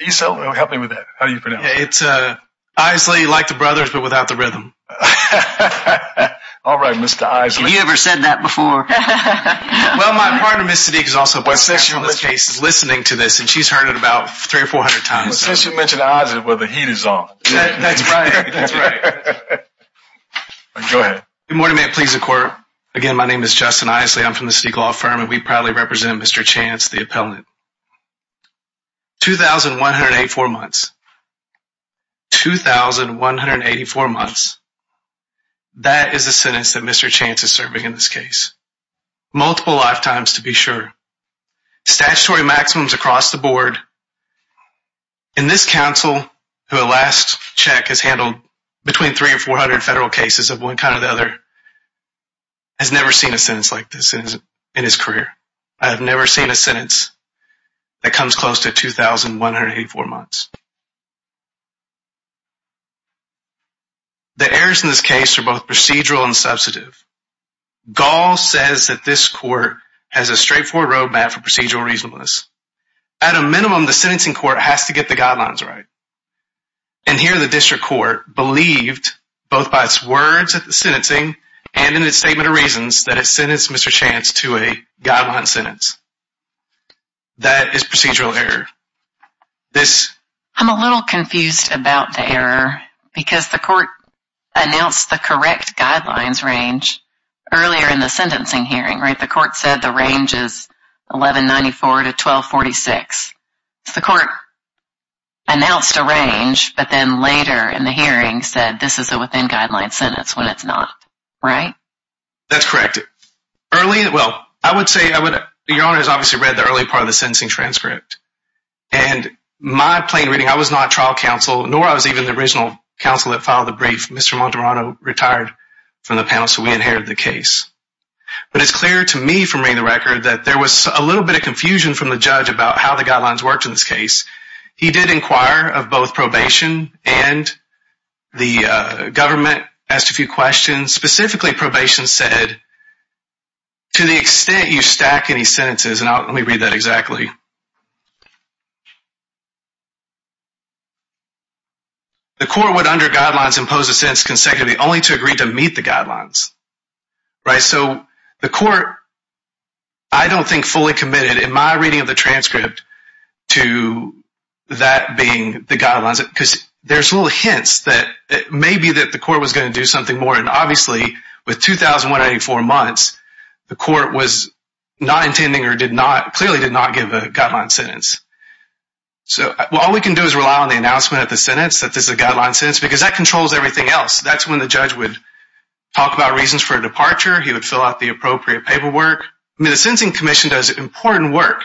You so help me with that how do you pronounce it's uh, I say you like the brothers but without the rhythm All right, mr. Eyes, have you ever said that before? Well, my partner miss Sadiq is also what session this case is listening to this and she's heard it about three or four hundred times Since you mentioned eyes it where the heat is off Go ahead good morning, man, please the court again. My name is Justin Isley. I'm from the Stiegel firm and we proudly represent. Mr Chance the appellant 2184 months 2184 months That is a sentence that mr. Chance is serving in this case multiple lifetimes to be sure statutory maximums across the board in This council who the last check has handled between three or four hundred federal cases of one kind or the other Has never seen a sentence like this in his career. I have never seen a sentence That comes close to 2184 months The errors in this case are both procedural and substantive Gall says that this court has a straightforward road map for procedural reasonableness at a minimum the sentencing court has to get the guidelines, right and Here the district court believed both by its words at the sentencing and in its statement of reasons that it sentenced. Mr Chance to a guideline sentence That is procedural error This I'm a little confused about the error because the court Announced the correct guidelines range Earlier in the sentencing hearing right the court said the range is 1194 to 1246 the court Announced a range but then later in the hearing said this is a within guidelines sentence when it's not right. That's correct Early well, I would say I would your honor has obviously read the early part of the sentencing transcript and My plain reading I was not trial counsel nor I was even the original counsel that filed the brief. Mr Monterano retired from the panel. So we inherited the case But it's clear to me for me the record that there was a little bit of confusion from the judge about how the guidelines worked in this case he did inquire of both probation and the government asked a few questions specifically probation said To the extent you stack any sentences and I'll let me read that exactly The court would under guidelines impose a sense consecutively only to agree to meet the guidelines right, so the court I Don't think fully committed in my reading of the transcript to That being the guidelines because there's little hints that it may be that the court was going to do something more and obviously With 2,000 184 months the court was not intending or did not clearly did not give a guideline sentence So all we can do is rely on the announcement at the sentence that this is a guideline sentence because that controls everything else That's when the judge would talk about reasons for a departure. He would fill out the appropriate paperwork I mean the Sensing Commission does important work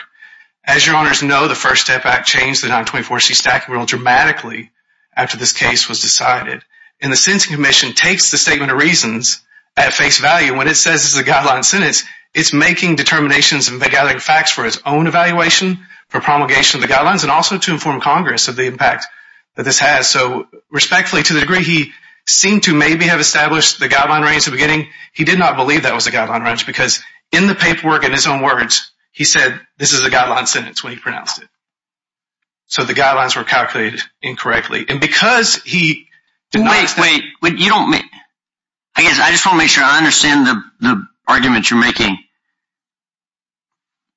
as your honors No The first step back changed the 924 C stack real dramatically after this case was decided in the Sensing Commission takes the statement of reasons At face value when it says it's a guideline sentence It's making determinations and they're gathering facts for his own Evaluation for promulgation of the guidelines and also to inform Congress of the impact that this has so respectfully to the degree He seemed to maybe have established the guideline range the beginning He did not believe that was a guideline wrench because in the paperwork in his own words He said this is a guideline sentence when he pronounced it so the guidelines were calculated incorrectly and because he Wait, but you don't mean I guess I just want to make sure I understand the arguments you're making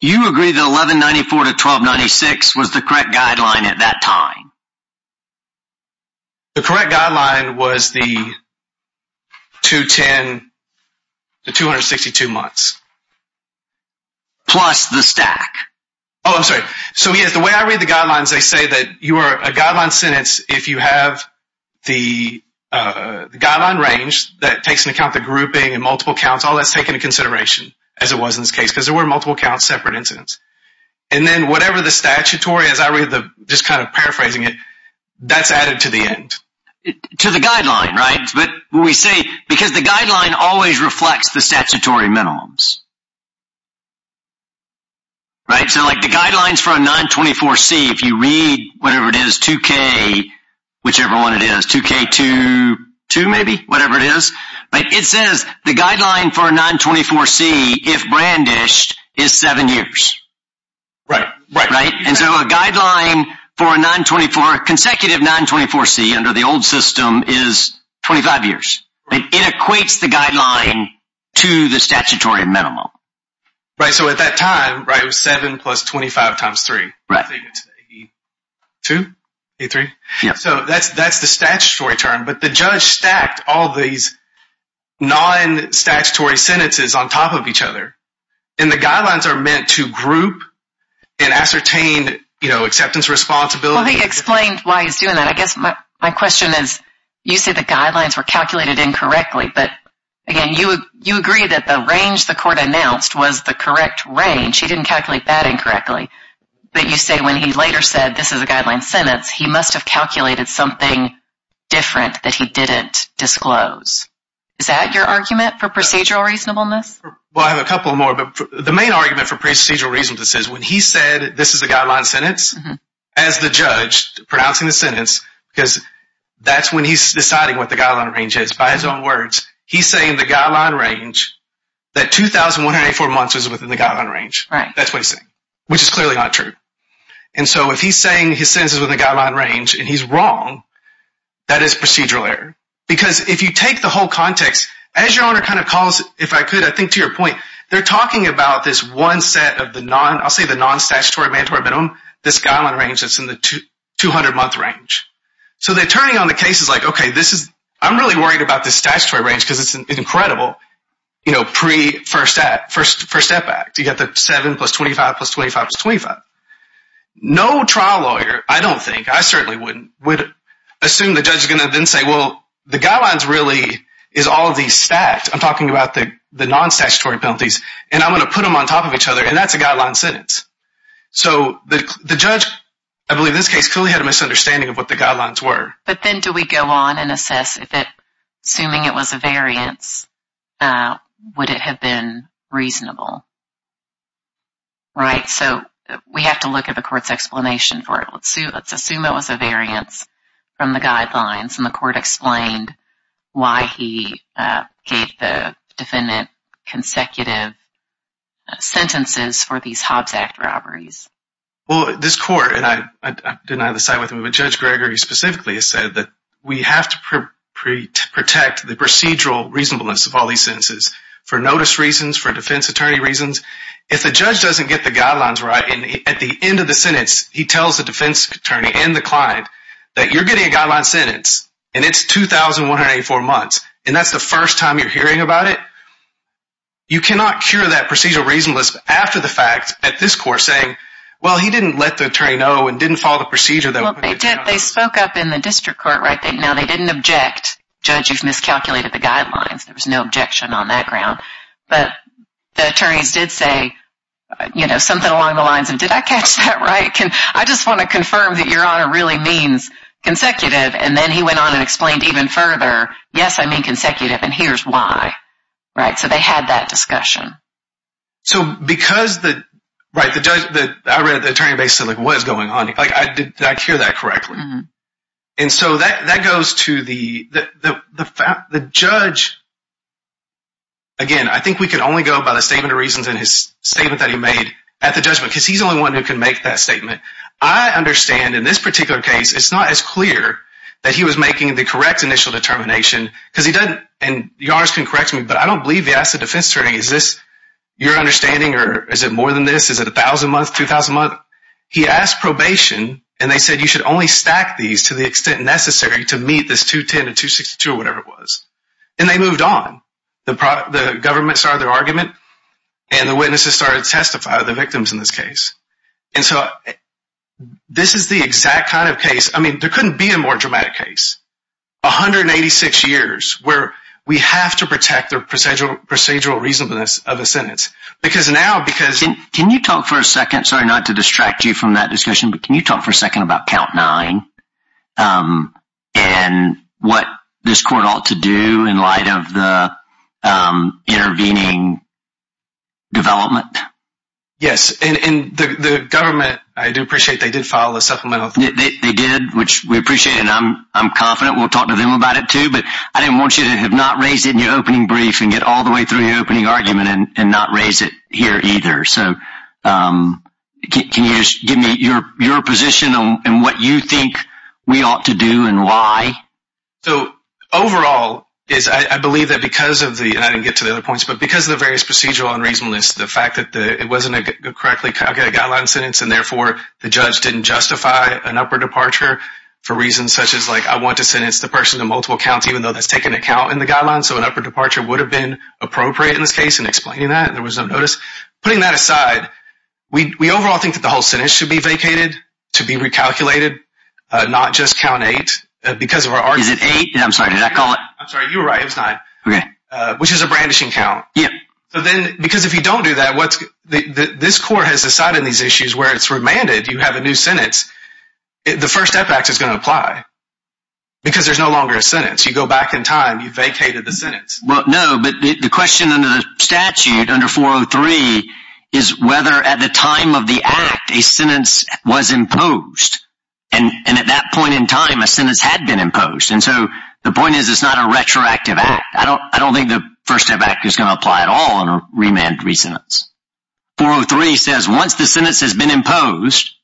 You agree the 1194 to 1296 was the correct guideline at that time The correct guideline was the 210 the 262 months Plus the stack. Oh, I'm sorry. So he is the way I read the guidelines they say that you are a guideline sentence if you have the guideline range that takes into account the grouping and multiple counts all that's taken into consideration as it was in this case because there Were multiple counts separate incidents and then whatever the statutory as I read the just kind of paraphrasing it that's added to the end To the guideline, right, but we say because the guideline always reflects the statutory minimums Right, so like the guidelines for a 924 C if you read whatever it is 2k Whichever one it is 2k to 2 maybe whatever it is, but it says the guideline for a 924 C if brandished is 7 years Right, right, right and so a guideline for a 924 consecutive 924 C under the old system is 25 years it equates the guideline to the statutory minimum Right. So at that time, right? It was 7 plus 25 times 3, right? 2 a 3. Yeah, so that's that's the statutory term, but the judge stacked all these non statutory sentences on top of each other and the guidelines are meant to group and Ascertain, you know acceptance responsibility explained why he's doing that I guess my question is you say the guidelines were calculated incorrectly But again, you you agree that the range the court announced was the correct range He didn't calculate that incorrectly, but you say when he later said this is a guideline sentence. He must have calculated something Different that he didn't disclose Is that your argument for procedural reasonableness? Well, I have a couple more but the main argument for procedural reason to says when he said this is a guideline sentence as the judge pronouncing the sentence because That's when he's deciding what the guideline range is by his own words. He's saying the guideline range That 2184 months is within the guideline range, right? That's what he's saying, which is clearly not true. And so if he's saying his senses with a guideline range and he's wrong That is procedural error because if you take the whole context as your owner kind of calls if I could I think to your point They're talking about this one set of the non. I'll say the non statutory mandatory minimum this guideline range That's in the 200 month range. So they're turning on the case is like, okay This is I'm really worried about this statutory range because it's an incredible, you know Pre first at first first step back to get the 7 plus 25 plus 25 25 No trial lawyer. I don't think I certainly wouldn't would assume the judge is gonna then say well the guidelines really is all these stats I'm talking about the the non statutory penalties and I'm gonna put them on top of each other and that's a guideline sentence So the the judge I believe this case clearly had a misunderstanding of what the guidelines were But then do we go on and assess it that assuming it was a variance? Would it have been reasonable? Right, so we have to look at the court's explanation for it Let's see. Let's assume it was a variance from the guidelines and the court explained why he gave the defendant consecutive Sentences for these Hobbs Act robberies. Well this court and I didn't either side with him But judge Gregory specifically has said that we have to protect the procedural reasonableness of all these senses for notice reasons for defense attorney reasons if the judge doesn't get the guidelines right and at The end of the sentence he tells the defense attorney and the client that you're getting a guideline sentence and it's 2184 months and that's the first time you're hearing about it You cannot cure that procedural reasonableness after the fact at this court saying well He didn't let the attorney know and didn't follow the procedure though. They did they spoke up in the district court, right? They know they didn't object judge. You've miscalculated the guidelines. There was no objection on that ground, but the attorneys did say You know something along the lines and did I catch that right? Can I just want to confirm that your honor really means consecutive and then he went on and explained even further Yes, I mean consecutive and here's why right so they had that discussion So because the right the judge that I read the attorney basically what's going on like I did that cure that correctly Mm-hmm. And so that that goes to the the the fact the judge Again I think we can only go about a statement of reasons in his Statement that he made at the judgment because he's only one who can make that statement. I Understand in this particular case It's not as clear that he was making the correct initial determination because he doesn't and yours can correct me But I don't believe the acid defense training. Is this your understanding or is it more than this? Is it a thousand months two thousand month? He asked probation and they said you should only stack these to the extent necessary to meet this 210 and 262 or whatever it was And they moved on the product the government started their argument and the witnesses started to testify the victims in this case. And so This is the exact kind of case. I mean there couldn't be a more dramatic case 186 years where we have to protect their procedural procedural reasonableness of a sentence because now because Can you talk for a second? Sorry not to distract you from that discussion, but can you talk for a second about count nine? and what this court ought to do in light of the Intervening Development. Yes in the government. I do appreciate they did follow the supplemental They did which we appreciate and I'm I'm confident We'll talk to them about it, too But I didn't want you to have not raised in your opening brief and get all the way through the opening argument and not Raise it here either. So Can you give me your your position on and what you think we ought to do and why So overall is I believe that because of the I didn't get to the other points But because of the various procedural unreasonableness the fact that the it wasn't a good correctly Guideline sentence and therefore the judge didn't justify an upper departure For reasons such as like I want to sentence the person to multiple counts even though that's taken account in the guideline So an upper departure would have been appropriate in this case and explaining that there was no notice putting that aside We overall think that the whole sentence should be vacated to be recalculated Not just count eight because of our art is it eight? I'm sorry. Did I call it? I'm sorry. You were right It's not okay, which is a brandishing count. Yeah, so then because if you don't do that This court has decided these issues where it's remanded you have a new sentence the first step act is going to apply Because there's no longer a sentence you go back in time. You vacated the sentence Well, no But the question under the statute under 403 is whether at the time of the act a sentence was imposed And and at that point in time a sentence had been imposed. And so the point is it's not a retroactive act I don't I don't think the first step back is gonna apply at all in a remand three sentence 403 says once the sentence has been imposed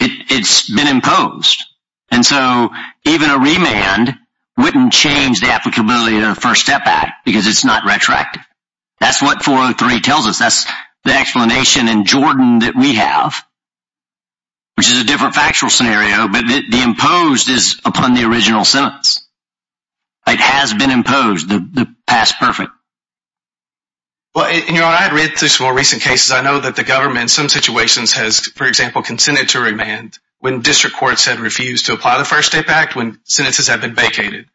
It's been imposed and so even a remand Wouldn't change the applicability of the first step back because it's not retroactive. That's what 403 tells us That's the explanation in Jordan that we have Which is a different factual scenario, but the imposed is upon the original sentence It has been imposed the past perfect Well, you know, I had read through some more recent cases I know that the government some situations has for example Consented to remand when district courts had refused to apply the first step act when sentences have been vacated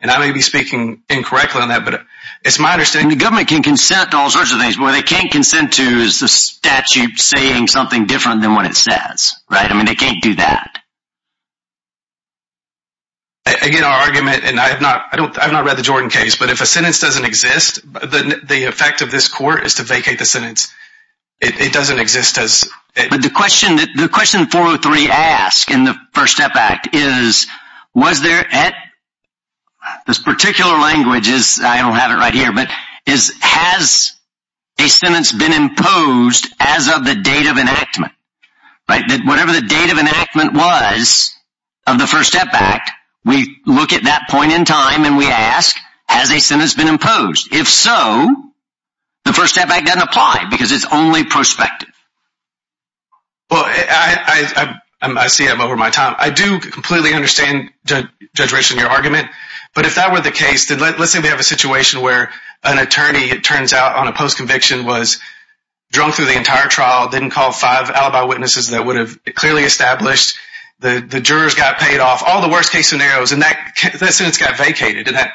and I may be speaking Incorrectly on that, but it's my understanding the government can consent to all sorts of things Well, they can't consent to is the statute saying something different than what it says, right? I mean, they can't do that I Get our argument and I have not I don't I've not read the Jordan case But if a sentence doesn't exist, but the effect of this court is to vacate the sentence It doesn't exist as but the question that the question 403 asked in the first step back is was there at? this particular language is I don't have it right here, but is has a sentence been imposed as of the date of enactment like that, whatever the date of enactment was Of the first step back. We look at that point in time and we ask has a sentence been imposed if so The first step back doesn't apply because it's only prospective well, I See, I'm over my time. I do completely understand Judgment in your argument, but if that were the case then let's say we have a situation where an attorney it turns out on a post conviction was Drunk through the entire trial didn't call five alibi witnesses that would have clearly established the the jurors got paid off all the worst-case scenarios and that sentence got vacated to that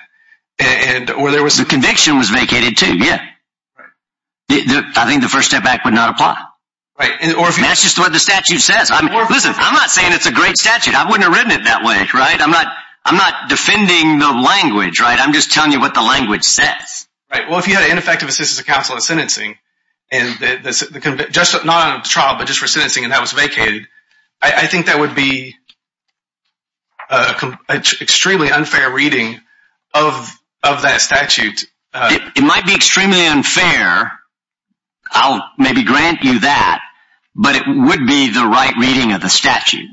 and Or there was the conviction was vacated to yeah The I think the first step back would not apply right and or if that's just what the statute says I'm listen. I'm not saying it's a great statute. I wouldn't have written it that way, right? I'm not I'm not defending the language, right? I'm just telling you what the language says, right? Just not a trial but just for sentencing and that was vacated I think that would be a Extremely unfair reading of of that statute it might be extremely unfair I'll maybe grant you that But it would be the right reading of the statute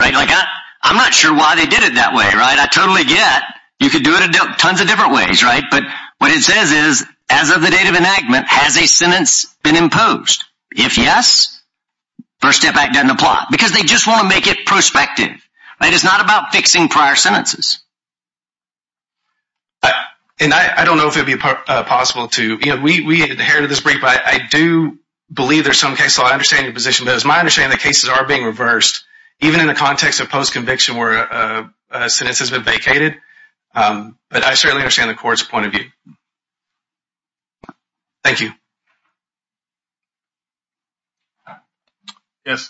right like that. I'm not sure why they did it that way, right? I totally get you could do it tons of different ways, right? But what it says is as of the date of enactment has a sentence been imposed if yes First step back doesn't apply because they just want to make it prospective. It is not about fixing prior sentences And I don't know if it'd be possible to you know, we inherited this brief I do believe there's some case so I understand your position but as my understanding the cases are being reversed even in the context of post conviction where Sentence has been vacated But I certainly understand the court's point of view Thank you Yes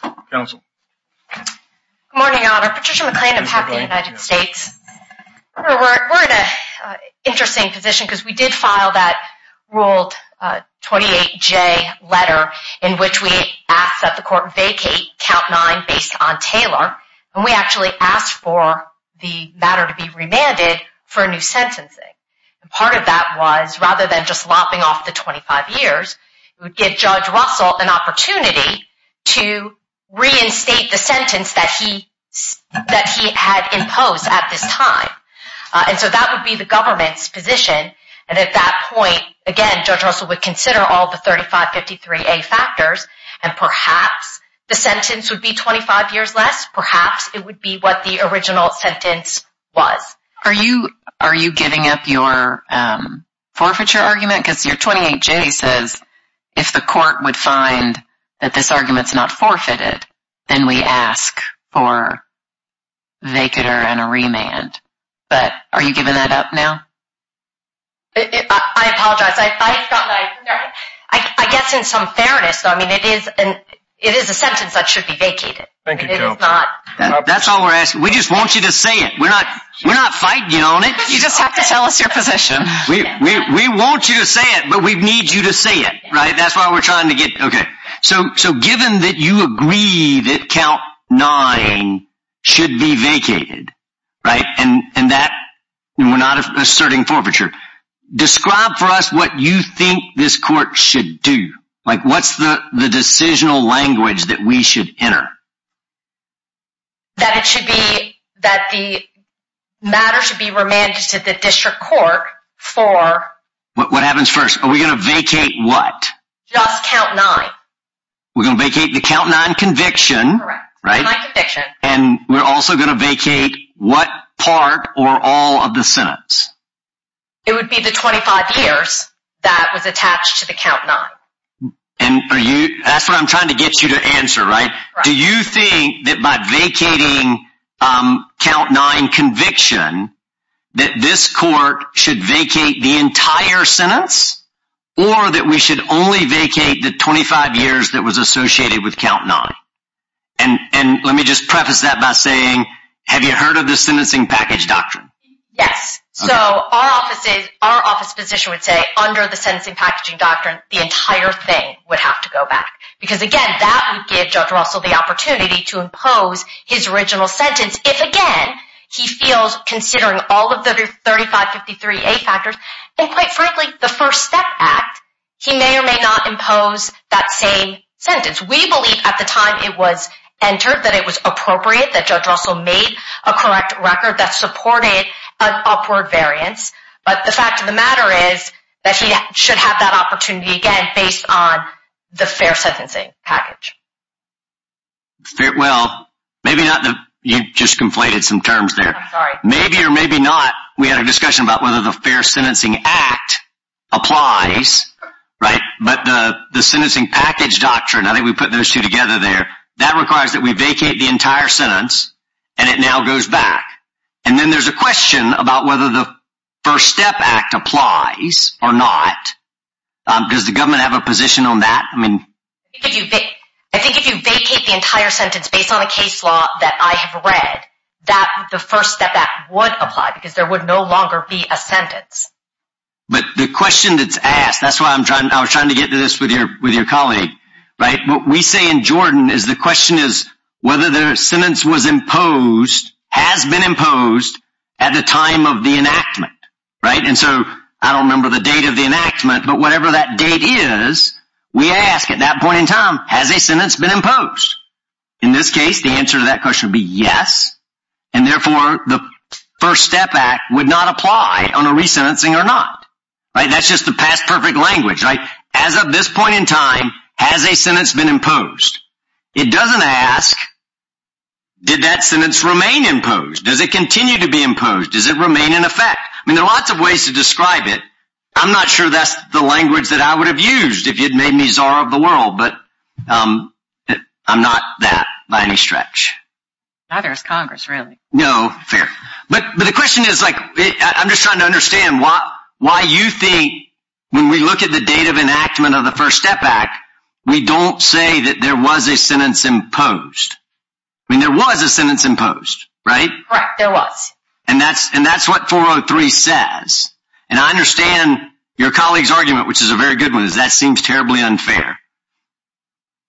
Interesting position because we did file that ruled 28j letter in which we asked that the court vacate count nine based on Taylor and we actually asked for The matter to be remanded for a new sentencing and part of that was rather than just lopping off the 25 years it would get judge Russell an opportunity to reinstate the sentence that he That he had imposed at this time And so that would be the government's position and at that point again judge Russell would consider all the 3553 a factors And perhaps the sentence would be 25 years less. Perhaps it would be what the original sentence was Are you are you giving up your? Forfeiture argument because you're 28 J says if the court would find that this arguments not forfeited then we ask for They could earn a remand, but are you giving that up now? I Guess in some fairness, I mean it is and it is a sentence that should be vacated That's all we're asking. We just want you to say it. We're not we're not fighting you on it You just have to tell us your position. We want you to say it, but we need you to say it, right? That's why we're trying to get okay. So so given that you agree that count nine Should be vacated right and and that we're not asserting forfeiture Describe for us what you think this court should do like what's the the decisional language that we should enter? That it should be that the Matter should be remanded to the district court for what happens first. Are we gonna vacate? What? We're gonna vacate the count nine conviction right and we're also gonna vacate what part or all of the sentence It would be the 25 years that was attached to the count not and Are you that's what I'm trying to get you to answer, right? Do you think that by vacating? count nine conviction That this court should vacate the entire sentence or that we should only vacate the 25 years that was associated with count nine and And let me just preface that by saying have you heard of the sentencing package doctrine? Yes So our offices our office physician would say under the sentencing packaging doctrine the entire thing would have to go back Because again that would give judge russell the opportunity to impose his original sentence if again He feels considering all of the 35 53 a factors and quite frankly the first step act He may or may not impose that same sentence We believe at the time it was entered that it was appropriate that judge russell made a correct record that supported Upward variance but the fact of the matter is that he should have that opportunity again based on the fair sentencing package Well, maybe not the you just conflated some terms there Maybe or maybe not we had a discussion about whether the fair sentencing act applies Right, but the the sentencing package doctrine I think we put those two together there that requires that we vacate the entire sentence And it now goes back and then there's a question about whether the first step act applies or not Does the government have a position on that? I mean I think if you vacate the entire sentence based on a case law that I have read That the first step that would apply because there would no longer be a sentence But the question that's asked that's why i'm trying i was trying to get to this with your with your colleague Right what we say in jordan is the question is whether the sentence was imposed Has been imposed at the time of the enactment, right? And so I don't remember the date of the enactment, but whatever that date is We ask at that point in time has a sentence been imposed In this case the answer to that question would be yes and therefore the First step act would not apply on a resentencing or not Right, that's just the past perfect language right as of this point in time has a sentence been imposed it doesn't ask Did that sentence remain imposed? Does it continue to be imposed? Does it remain in effect? I mean there are lots of ways to describe it i'm, not sure that's the language that I would have used if you'd made me czar of the world, but um I'm, not that by any stretch Neither is congress really no fair, but but the question is like i'm just trying to understand why why you think When we look at the date of enactment of the first step act, we don't say that there was a sentence imposed I mean there was a sentence imposed, right? Correct. There was and that's and that's what 403 says And I understand your colleague's argument, which is a very good one is that seems terribly unfair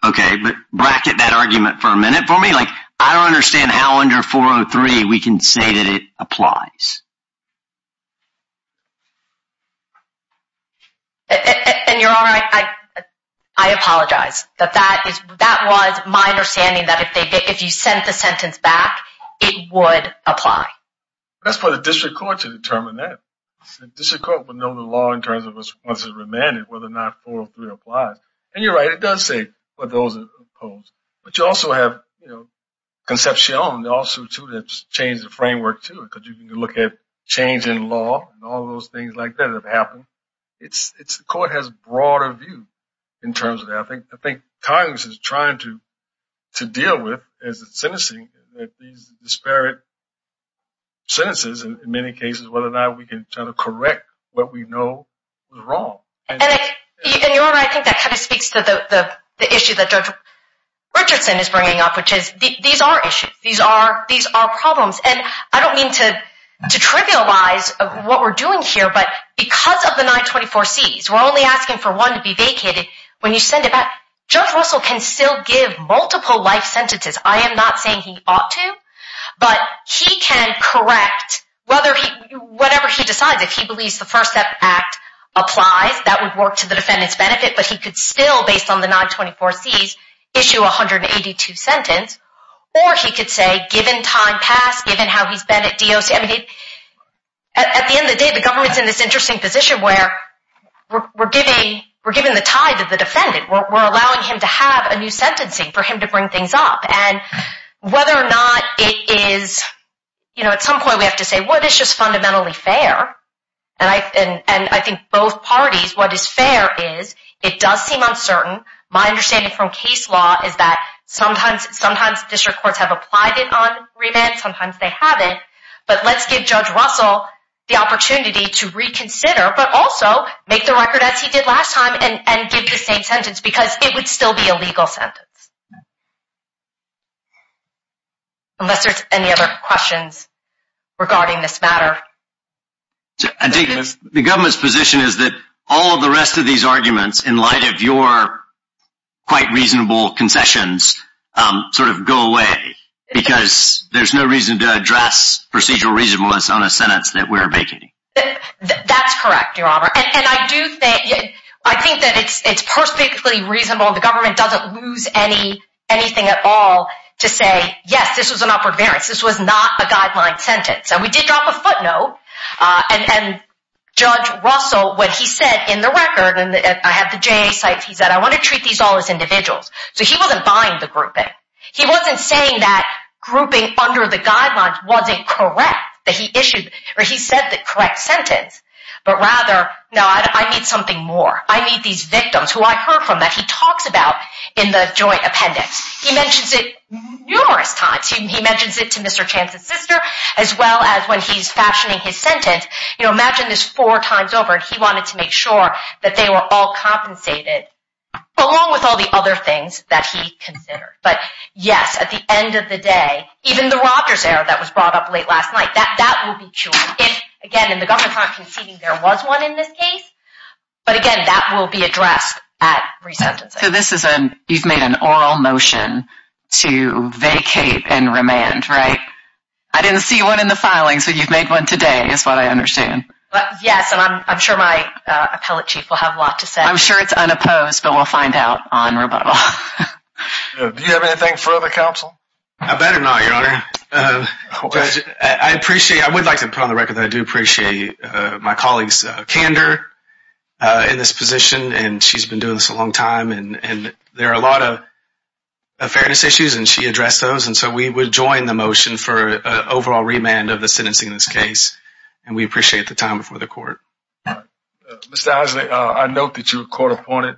Okay, but bracket that argument for a minute for me like I don't understand how under 403 we can say that it applies And you're all right, I I apologize that that is that was my understanding that if they if you sent the sentence back it would apply That's for the district court to determine that District court will know the law in terms of us once it's remanded whether or not 403 applies and you're right It does say what those are opposed, but you also have you know Concepcion also to that's changed the framework too because you can look at change in law and all those things like that have happened It's it's the court has broader view in terms of that. I think I think congress is trying to To deal with as it's sentencing that these disparate Sentences in many cases whether or not we can try to correct what we know was wrong and I think that kind of speaks to the the issue that judge Richardson is bringing up which is these are issues. These are these are problems and I don't mean to To trivialize what we're doing here, but because of the 924 c's we're only asking for one to be vacated when you send it back Judge russell can still give multiple life sentences. I am not saying he ought to But he can correct whether he whatever he decides if he believes the first step act Applies that would work to the defendant's benefit, but he could still based on the 924 c's issue 182 sentence Or he could say given time passed given how he's been at doc At the end of the day the government's in this interesting position where We're giving we're giving the tide to the defendant we're allowing him to have a new sentencing for him to bring things up and Whether or not it is You know at some point we have to say what is just fundamentally fair And I and and I think both parties what is fair is it does seem uncertain My understanding from case law is that sometimes sometimes district courts have applied it on remand Sometimes they have it but let's give judge russell the opportunity to reconsider but also Make the record as he did last time and and give the same sentence because it would still be a legal sentence Unless there's any other questions regarding this matter The government's position is that all of the rest of these arguments in light of your quite reasonable concessions Um sort of go away Because there's no reason to address procedural reasonableness on a sentence that we're making That's correct. Your honor and I do think I think that it's it's perfectly reasonable. The government doesn't lose any Anything at all to say yes, this was an upward variance. This was not a guideline sentence and we did drop a footnote uh and Judge russell when he said in the record and I had the jay site He said I want to treat these all as individuals. So he wasn't buying the grouping He wasn't saying that grouping under the guidelines wasn't correct that he issued or he said the correct sentence But rather no, I need something more. I need these victims who I heard from that He talks about in the joint appendix. He mentions it Numerous times he mentions it to mr Chance's sister as well as when he's fashioning his sentence, you know, imagine this four times over and he wanted to make sure That they were all compensated Along with all the other things that he considered but yes at the end of the day Even the rogers error that was brought up late last night that that will be true If again in the government's not conceding there was one in this case But again that will be addressed at resentencing so this is an you've made an oral motion To vacate and remand, right? I didn't see one in the filing. So you've made one today is what I understand Yes, and i'm i'm sure my uh appellate chief will have a lot to say i'm sure it's unopposed, but we'll find out on rebuttal Do you have anything further counsel? I better not your honor I appreciate I would like to put on the record that I do appreciate My colleague's candor uh in this position and she's been doing this a long time and and there are a lot of Fairness issues and she addressed those and so we would join the motion for Overall remand of the sentencing in this case and we appreciate the time before the court Mr. Eisley, I note that you're a court appointed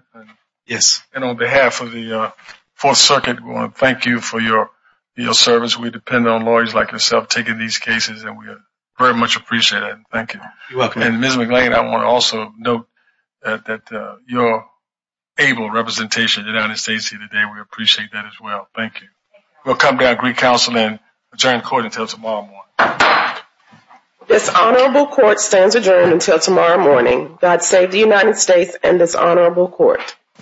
Yes, and on behalf of the uh fourth circuit. We want to thank you for your your service We depend on lawyers like yourself taking these cases and we very much appreciate it. Thank you. You're welcome. And miss mclain. I want to also note that that uh, you're Able representation in the united states here today. We appreciate that as well. Thank you We'll come down great counseling adjourn court until tomorrow morning This honorable court stands adjourned until tomorrow morning god save the united states and this honorable court